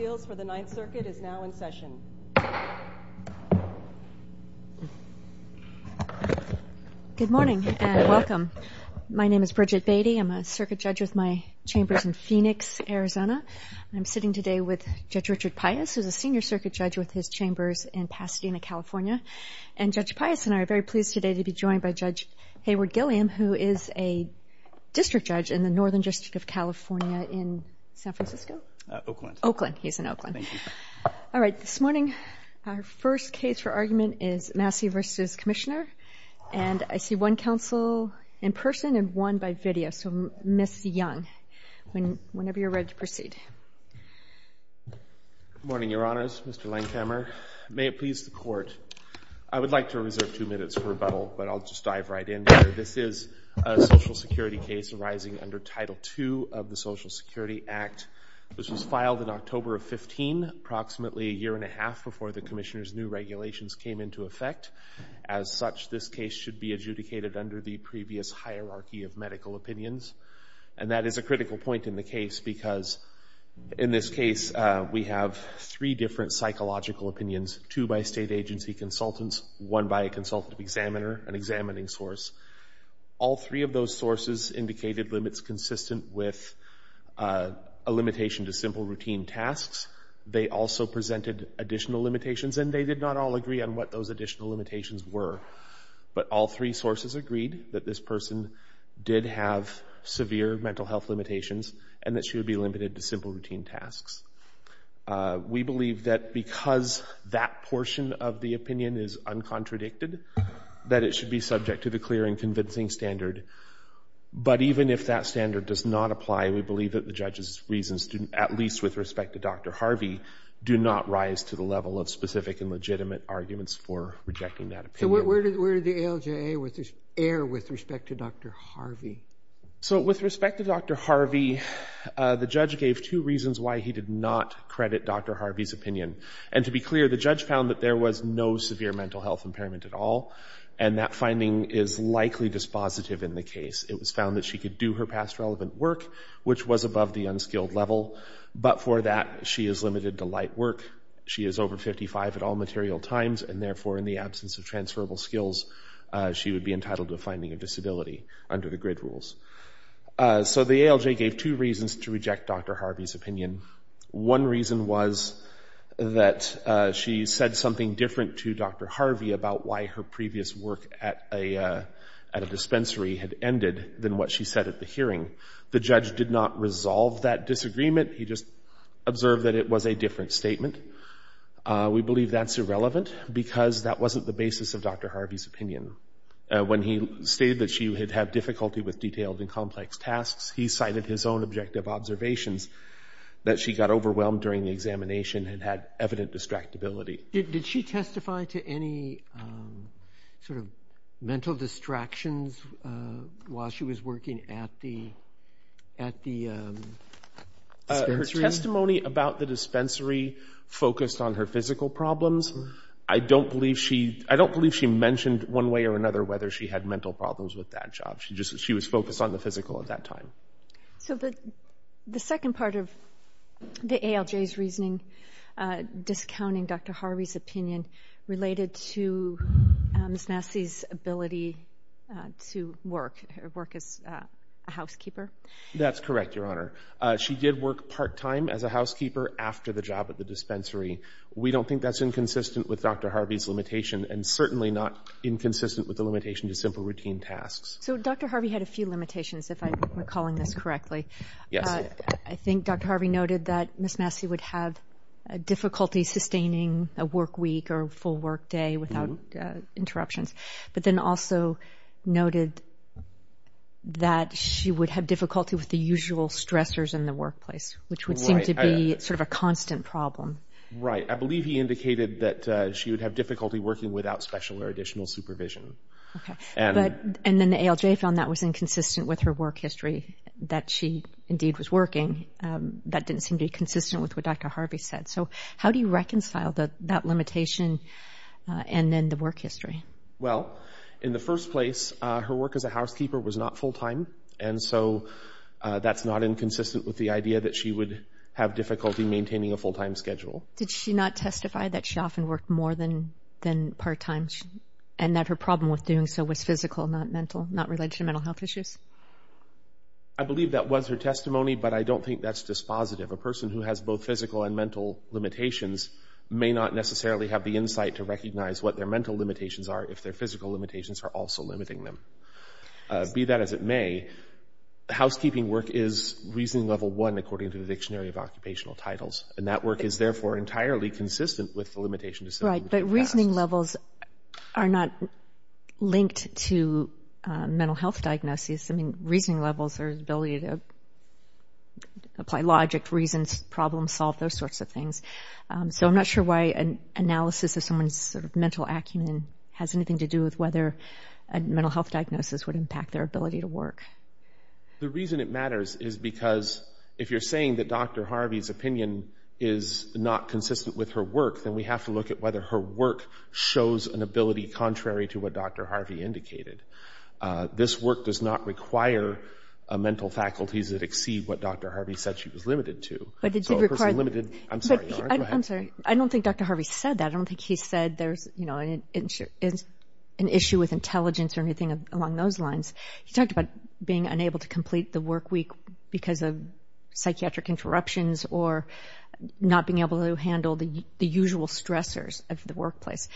is now in session. Good morning and welcome. My name is Bridget Beatty. I'm a circuit judge with my chambers in Phoenix, Arizona. I'm sitting today with Judge Richard Pius, who's a senior circuit judge with his chambers in Pasadena, California. And Judge Pius and I are very pleased today to be joined by Judge Hayward Gilliam, who is a district judge in the Northern District of California in San Francisco? Oakland. Oakland. He's in Oakland. Thank you. All right. This morning, our first case for argument is Massey v. Commissioner. And I see one counsel in person and one by video, so Ms. Young, whenever you're ready to proceed. Good morning, Your Honors. Mr. Lancammer. May it please the Court, I would like to reserve two minutes for rebuttal, but I'll just dive right in there. This is a Social Security case arising under Title II of the Social Security Act. This was filed in October of 15, approximately a year and a half before the Commissioner's new regulations came into effect. As such, this case should be adjudicated under the previous hierarchy of medical opinions. And that is a critical point in the case because in this case, we have three different psychological opinions, two by state agency consultants, one by a three of those sources indicated limits consistent with a limitation to simple routine tasks. They also presented additional limitations, and they did not all agree on what those additional limitations were. But all three sources agreed that this person did have severe mental health limitations and that she would be limited to simple routine tasks. We believe that because that portion of the opinion is uncontradicted, that it should be subject to the clear and But even if that standard does not apply, we believe that the judge's reasons, at least with respect to Dr. Harvey, do not rise to the level of specific and legitimate arguments for rejecting that opinion. So where did the ALJA err with respect to Dr. Harvey? So with respect to Dr. Harvey, the judge gave two reasons why he did not credit Dr. Harvey's opinion. And to be clear, the judge found that there was no severe mental health impairment at all, and that finding is likely dispositive in the case. It was found that she could do her past relevant work, which was above the unskilled level. But for that, she is limited to light work. She is over 55 at all material times, and therefore in the absence of transferable skills, she would be entitled to a finding of disability under the GRID rules. So the ALJA gave two reasons to reject Dr. Harvey's opinion. One reason was that she said something different to Dr. Harvey about why her previous work at a dispensary had ended than what she said at the hearing. The judge did not resolve that disagreement. He just observed that it was a different statement. We believe that's irrelevant because that wasn't the basis of Dr. Harvey's opinion. When he stated that she had had difficulty with detailed and complex tasks, he cited his own objective observations that she got Did she testify to any sort of mental distractions while she was working at the dispensary? Her testimony about the dispensary focused on her physical problems. I don't believe she mentioned one way or another whether she had mental problems with that job. She was focused on the physical at that time. So the second part of the ALJA's reasoning discounting Dr. Harvey's opinion related to Ms. Massey's ability to work as a housekeeper? That's correct, Your Honor. She did work part-time as a housekeeper after the job at the dispensary. We don't think that's inconsistent with Dr. Harvey's limitation, and certainly not inconsistent with the limitation to simple routine tasks. So Dr. Harvey had a few limitations, if I'm recalling this correctly. I think Dr. Harvey noted that Ms. Massey would have difficulty sustaining a work week or a full work day without interruptions, but then also noted that she would have difficulty with the usual stressors in the workplace, which would seem to be sort of a constant problem. Right. I believe he indicated that she would have difficulty working without special or additional supervision. Okay. And then the ALJA found that was inconsistent with her work history, that she indeed was working. That didn't seem to be consistent with what Dr. Harvey said. So how do you reconcile that limitation and then the work history? Well, in the first place, her work as a housekeeper was not full-time, and so that's not inconsistent with the idea that she would have difficulty maintaining a full-time schedule. Did she not testify that she often worked more than part-time, and that her problem with doing so was physical, not mental, not related to mental health issues? I believe that was her testimony, but I don't think that's dispositive. A person who has both physical and mental limitations may not necessarily have the insight to recognize what their mental limitations are if their physical limitations are also limiting them. Be that as it may, housekeeping work is Reasoning Level 1 according to the Dictionary of Occupational Titles, and that work is therefore entirely consistent with the limitation to set up a new class. Right, but Reasoning Levels are not linked to mental health diagnosis. I mean, Reasoning Levels are the ability to apply logic, reason, problem-solve, those sorts of things. So I'm not sure why an analysis of someone's mental acumen has anything to do with whether a mental health diagnosis would impact their ability to work. The reason it matters is because if you're saying that Dr. Harvey's opinion is not consistent with her work, then we have to look at whether her work shows an ability contrary to what Dr. Harvey indicated. This work does not require mental faculties that exceed what Dr. Harvey said she was limited to. But it did require... So a person limited... I'm sorry, go ahead. I'm sorry. I don't think Dr. Harvey said that. I don't think he said there's an issue with being unable to complete the work week because of psychiatric interruptions or not being able to handle the usual stressors of the workplace.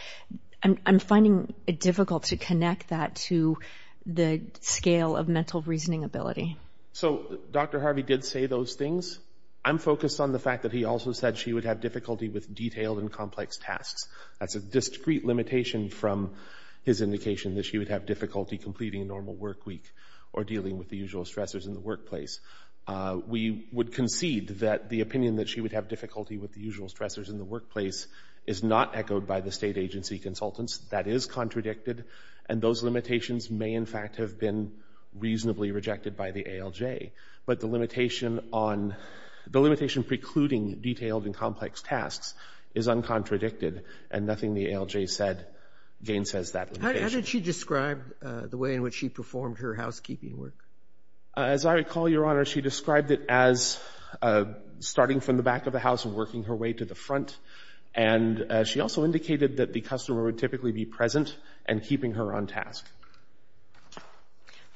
I'm finding it difficult to connect that to the scale of mental reasoning ability. So Dr. Harvey did say those things. I'm focused on the fact that he also said she would have difficulty with detailed and complex tasks. That's a discrete limitation from his indication that she would have difficulty completing a normal work week or dealing with the usual stressors in the workplace. We would concede that the opinion that she would have difficulty with the usual stressors in the workplace is not echoed by the state agency consultants. That is contradicted. And those limitations may, in fact, have been reasonably rejected by the ALJ. But the limitation on... The limitation precluding detailed and complex tasks is uncontradicted and nothing the ALJ said gainsays that limitation. How did she describe the way in which she performed her housekeeping work? As I recall, Your Honor, she described it as starting from the back of the house and working her way to the front. And she also indicated that the customer would typically be present and keeping her on task.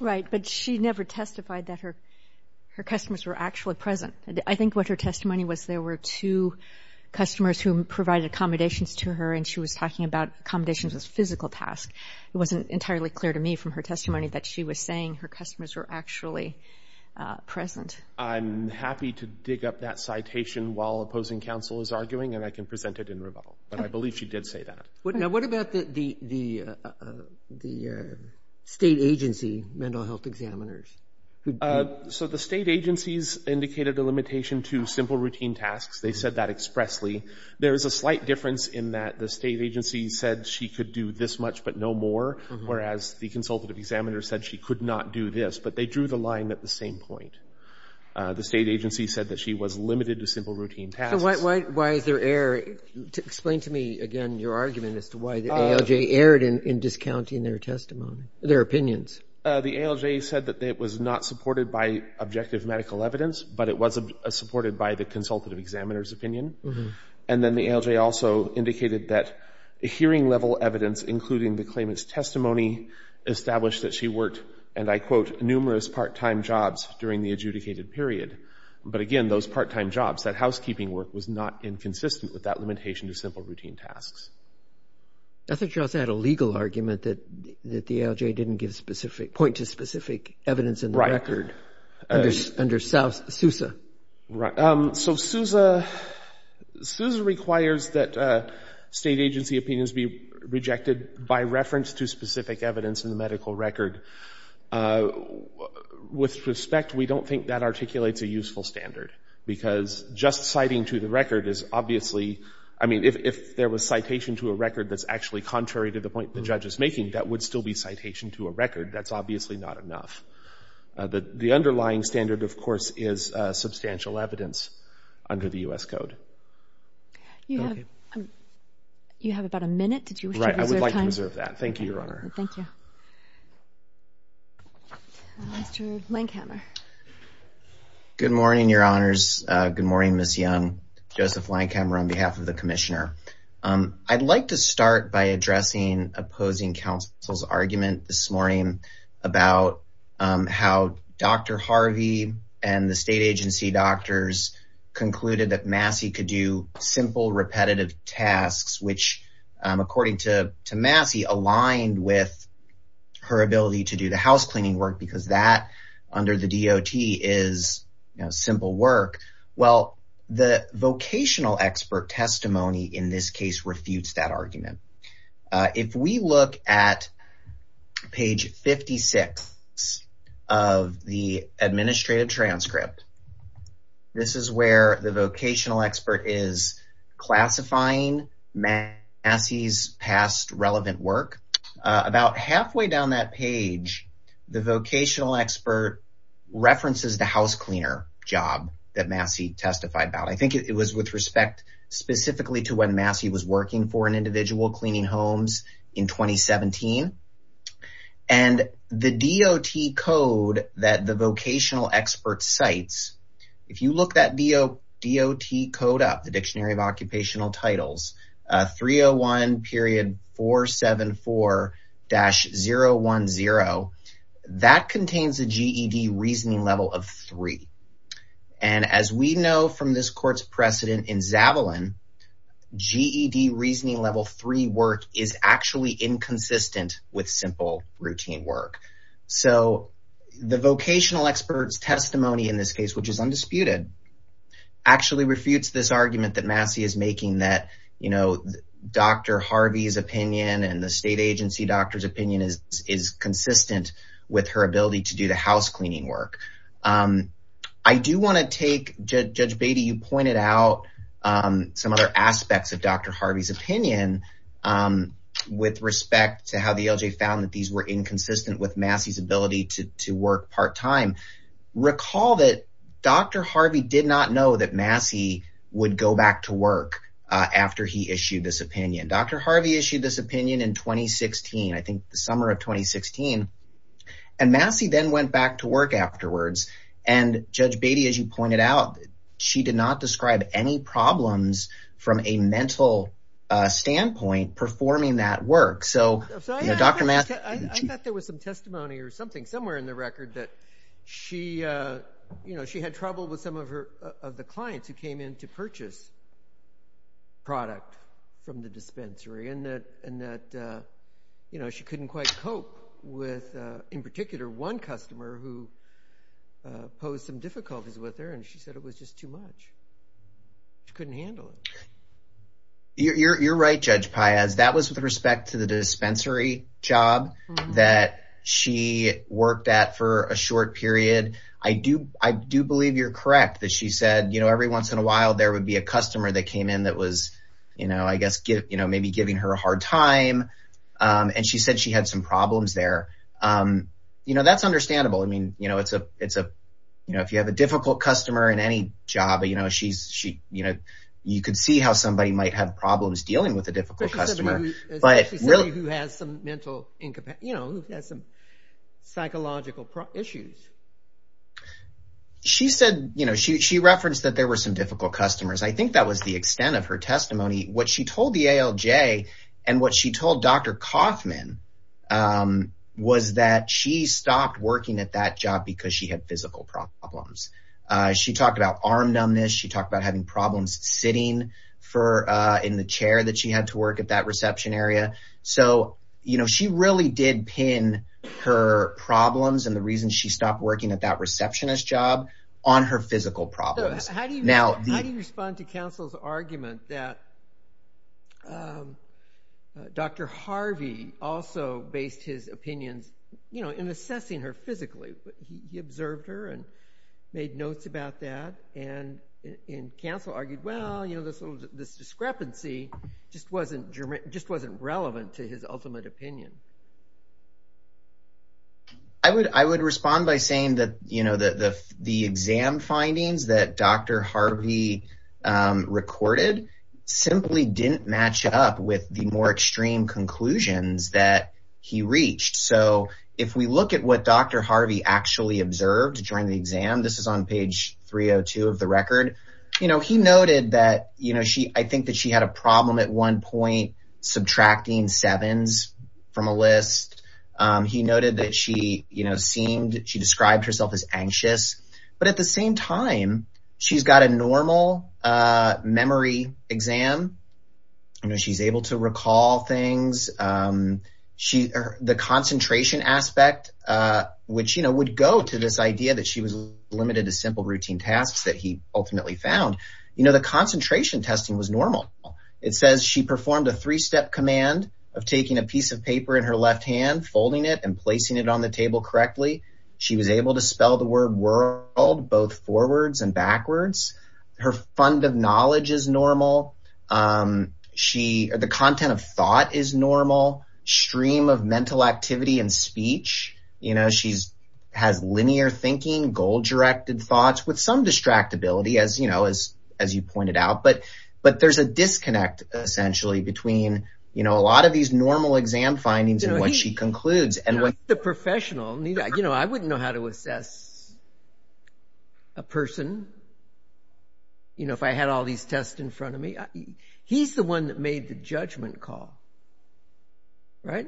Right. But she never testified that her customers were actually present. I think what her testimony was there were two customers who provided accommodations to her, and she was talking about accommodations as physical tasks. It wasn't entirely clear to me from her testimony that she was saying her customers were actually present. I'm happy to dig up that citation while opposing counsel is arguing, and I can present it in rebuttal. But I believe she did say that. Now, what about the state agency mental health examiners? So the state agencies indicated a limitation to simple routine tasks. They said that expressly. There is a slight difference in that the state agency said she could do this much but no more, whereas the consultative examiner said she could not do this. But they drew the line at the same point. The state agency said that she was limited to simple routine tasks. So why is there error? Explain to me again your argument as to why the ALJ erred in discounting their testimony, their opinions. The ALJ said that it was not supported by objective medical evidence, but it was supported by the consultative examiner's opinion. And then the ALJ also indicated that hearing-level evidence, including the claimant's testimony, established that she worked, and I quote, numerous part-time jobs during the adjudicated period. But again, those part-time jobs, that housekeeping work, was not inconsistent with that limitation to simple routine tasks. I thought you also had a legal argument that the ALJ didn't give specific, point to specific evidence in the record under SUSA. Right. So SUSA requires that state agency opinions be rejected by reference to specific evidence in the medical record. With respect, we don't think that articulates a useful standard, because just citing to the record is obviously, I mean, if there was citation to a record that's actually contrary to the point the judge is making, that would still be citation to a record. That's obviously not enough. The underlying standard, of course, is substantial evidence under the U.S. Code. You have about a minute. Did you wish to reserve time? Right. I would like to reserve that. Thank you, Your Honor. Thank you. Mr. Lankhamer. Good morning, Your Honors. Good morning, Ms. Young. Joseph Lankhamer on behalf of the Commissioner. I'd like to start by addressing opposing counsel's argument this morning about how Dr. Harvey and the state agency doctors concluded that Massey could do simple, repetitive tasks, which according to Massey, aligned with her ability to do the housecleaning work because that under the DOT is simple work. Well, the vocational expert testimony in this case refutes that argument. If we look at page 56 of the administrative transcript, this is where the vocational expert is classifying Massey's past relevant work. About halfway down that page, the vocational expert references the housecleaner job that Massey testified about. I think it was with respect specifically to when Massey was working for an individual cleaning homes in 2017 and the DOT code that the vocational expert cites. If you look that DOT code up, the Dictionary of Occupational Titles 301.474-010, that contains a GED reasoning level of 3. As we know from this court's precedent in Zavalin, GED reasoning level 3 work is actually inconsistent with simple routine work. The vocational expert's testimony in this case, which is undisputed, actually refutes this argument that Massey is making that Dr. Harvey's opinion and the state agency doctor's opinion is consistent with her ability to do the housecleaning work. I do want to take, Judge Beatty, you pointed out some other aspects of Dr. Harvey's opinion with respect to how the LJ found that these were inconsistent with Massey's ability to work part-time. Recall that Dr. Harvey did not know that Massey would go back to work after he issued this opinion. Dr. Harvey issued this opinion in 2016, I think the summer of 2016, and Massey then went back to work afterwards and Judge Beatty, as you pointed out, she did not describe any problems from a mental standpoint performing that work. I thought there was some testimony or something somewhere in the record that she had trouble with some of the clients who came in to purchase product from the dispensary, and that she couldn't quite cope with, in particular, one customer who posed some difficulties with her, and she said it was just too much. She couldn't handle it. You're right, Judge Paez. That was with respect to the dispensary job that she worked at for a short period. I do believe you're correct that she said every once in a while there would be a customer that came in that was maybe giving her a hard time, and she said she had some problems there. That's understandable. If you have a difficult customer in any job, you could see how somebody might have problems dealing with a difficult customer. Especially somebody who has some psychological issues. She referenced that there were some difficult customers. I think that was the extent of her testimony. What she told the ALJ and what she told Dr. Kaufman was that she stopped working at that job because she had physical problems. She talked about arm numbness. She had to work at that reception area. She really did pin her problems and the reason she stopped working at that receptionist job on her physical problems. How do you respond to counsel's argument that Dr. Harvey also based his opinions in assessing her physically? He observed her and made notes about that, and counsel argued, well, this discrepancy just wasn't relevant to his ultimate opinion. I would respond by saying that the exam findings that Dr. Harvey recorded simply didn't match up with the more extreme conclusions that he reached. If we look at what Dr. Harvey actually observed during the exam, this is on page 302 of the record, he noted that I think she had a problem at one point subtracting sevens from a list. He noted that she described herself as anxious, but at the same time, she's got a normal memory exam. She's able to recall things. The concentration aspect, which would go to this idea that she was limited to simple routine tasks that he ultimately found, the concentration testing was normal. It says she performed a three-step command of taking a piece of paper in her left hand, folding it, and placing it on the table correctly. She was able to spell the word world both forwards and backwards. Her fund of knowledge is normal. The content of thought is normal. Stream of thoughts with some distractibility, as you pointed out, but there's a disconnect essentially between a lot of these normal exam findings and what she concludes. He's the professional. I wouldn't know how to assess a person if I had all these tests in front of me. He's the one that made the judgment call, right?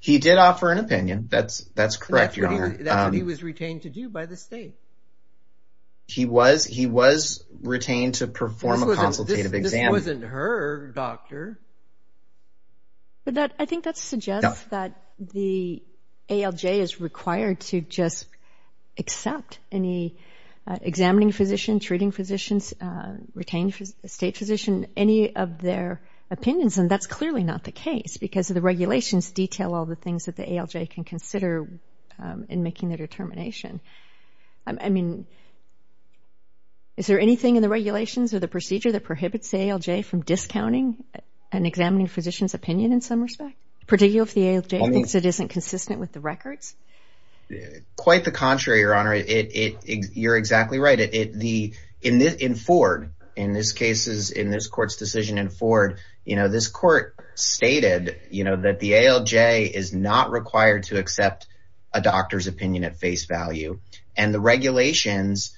He did offer an opinion. That's correct, Your Honor. That's what he was retained to do by the state. He was retained to perform a consultative exam. This wasn't her, Doctor. I think that suggests that the ALJ is required to just accept any examining physician, treating physician, retained state physician, any of their opinions. That's clearly not the case because the regulations detail all the things that the ALJ can consider in making the determination. Is there anything in the regulations or the procedure that prohibits the ALJ from discounting an examining physician's opinion in some respect, particularly if the ALJ thinks it isn't consistent with the records? Quite the contrary, Your Honor. You're exactly right. In Ford, in this court's decision, in Ford, this court stated that the ALJ is not required to accept a doctor's opinion at face value. The regulations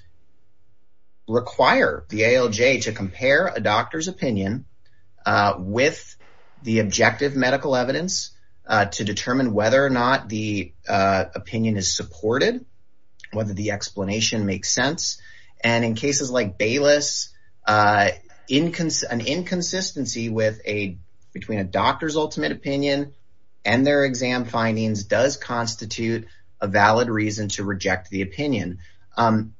require the ALJ to compare a doctor's opinion with the objective medical evidence to determine whether or not the opinion is supported, whether the consistency between a doctor's ultimate opinion and their exam findings does constitute a valid reason to reject the opinion.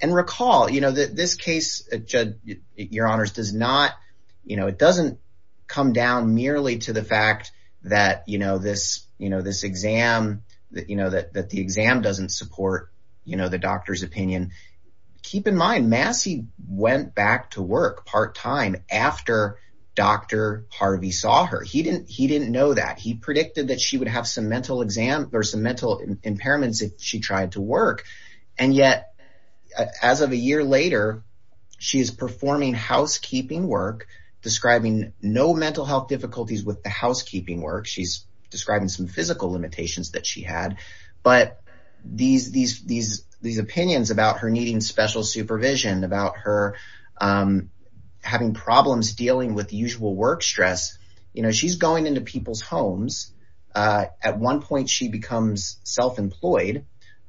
Recall that this case, Your Honors, it doesn't come down merely to the fact that the exam doesn't support the doctor's opinion. Keep in mind, Massey went back to work part-time after Dr. Harvey saw her. He didn't know that. He predicted that she would have some mental impairments if she tried to work, and yet, as of a year later, she is performing housekeeping work, describing no mental health difficulties with the housekeeping work. She's describing some physical limitations that she had, but these opinions about her needing special supervision, about her having problems dealing with usual work stress, she's going into people's homes. At one point, she becomes self-employed,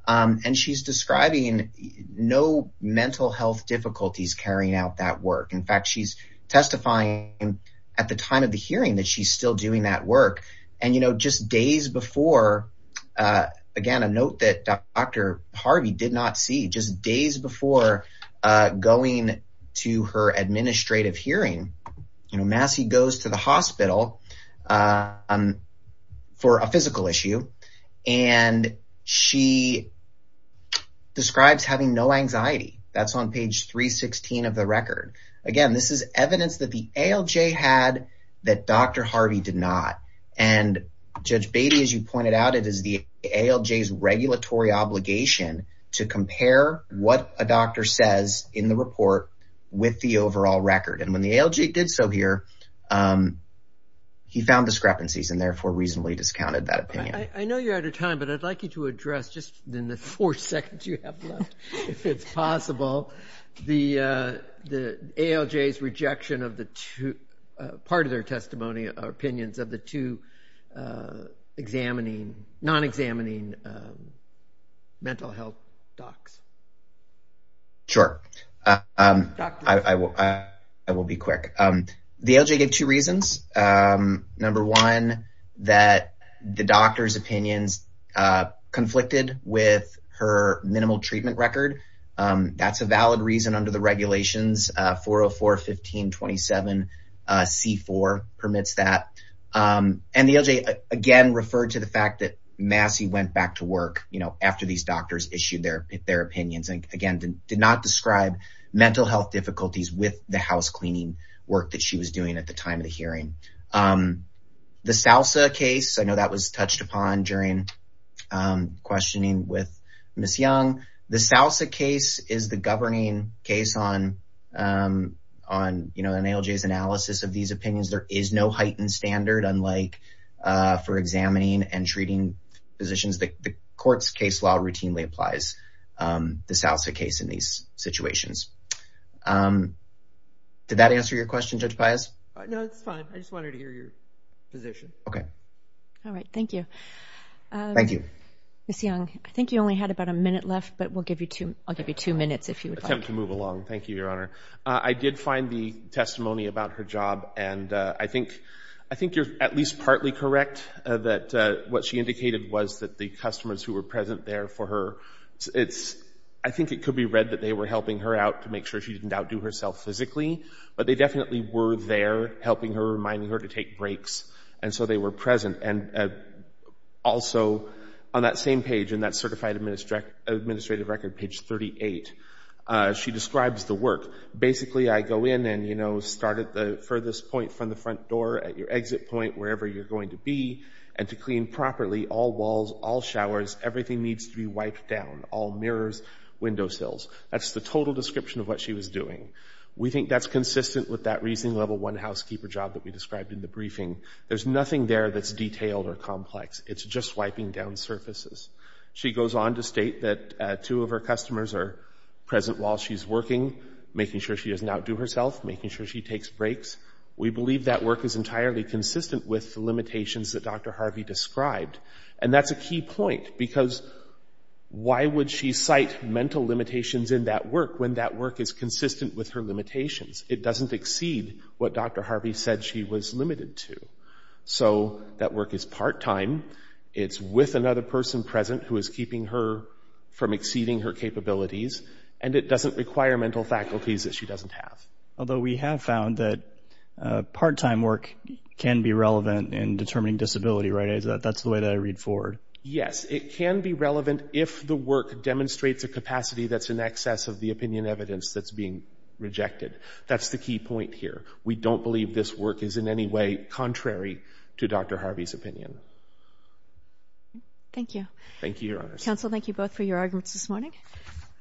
and she's describing no mental health difficulties carrying out that work. In fact, she's testifying at the time of the hearing that she's still doing that work, and just days before, again, a note that Dr. Harvey did not see, just days before going to her administrative hearing, Massey goes to the hospital for a physical issue, and she describes having no anxiety. That's on page 316 of the record. Again, this is evidence that the ALJ had that Dr. Harvey did not, and Judge Beatty, as you pointed out, it is the ALJ's regulatory obligation to compare what a doctor says in the report with the overall record. When the ALJ did so here, he found discrepancies and therefore reasonably discounted that opinion. I know you're out of time, but I'd like you to address, just in the four seconds you have left, if it's possible, the ALJ's rejection of part of their testimony or opinions of the two non-examining mental health docs. Sure. I will be quick. The ALJ gave two reasons. Number one, that the doctor's opinions conflicted with her minimal treatment record. That's a valid reason under the regulations, 404-1527-C4 permits that. The ALJ again referred to the fact that Massey went back to work after these doctors issued their opinions, and again, did not describe mental health difficulties with the housecleaning work that she was doing at the time of the hearing. The SALSA case, I know that was touched upon during questioning with Ms. Young. The SALSA case is the governing case on the ALJ's analysis of these opinions. There is no heightened standard, unlike for examining and treating physicians. The court's case law routinely applies the SALSA case in these situations. Did that answer your question, Judge Pius? No, it's fine. I just wanted to hear your position. Okay. All right. Thank you. Thank you. Ms. Young, I think you only had about a minute left, but I'll give you two minutes if you would like. I'll attempt to move along. Thank you, Your Honor. I did find the testimony about her job, and I think you're at least partly correct that what she indicated was that the customers who were present there for her, I think it could be read that they were helping her out to make sure she didn't outdo herself physically, but they definitely were there helping her, On that same page, in that Certified Administrative Record, page 38, she describes the work. Basically, I go in and, you know, start at the furthest point from the front door at your exit point, wherever you're going to be, and to clean properly all walls, all showers, everything needs to be wiped down, all mirrors, windowsills. That's the total description of what she was doing. We think that's consistent with that reasoning level one housekeeper job that we described in the briefing. There's nothing there that's detailed or complex. It's just wiping down surfaces. She goes on to state that two of her customers are present while she's working, making sure she doesn't outdo herself, making sure she takes breaks. We believe that work is entirely consistent with the limitations that Dr. Harvey described, and that's a key point, because why would she cite mental limitations in that work when that work is consistent with her limitations? It doesn't exceed what Dr. Harvey said she was limited to. So, that work is part-time. It's with another person present who is keeping her from exceeding her capabilities, and it doesn't require mental faculties that she doesn't have. Although we have found that part-time work can be relevant in determining disability, right? That's the way that I read forward. Yes, it can be relevant if the work demonstrates a capacity that's in excess of the opinion evidence that's being rejected. That's the key point here. We don't believe this work is in any way contrary to Dr. Harvey's opinion. Thank you. Thank you, Your Honor. Counsel, thank you both for your arguments this morning.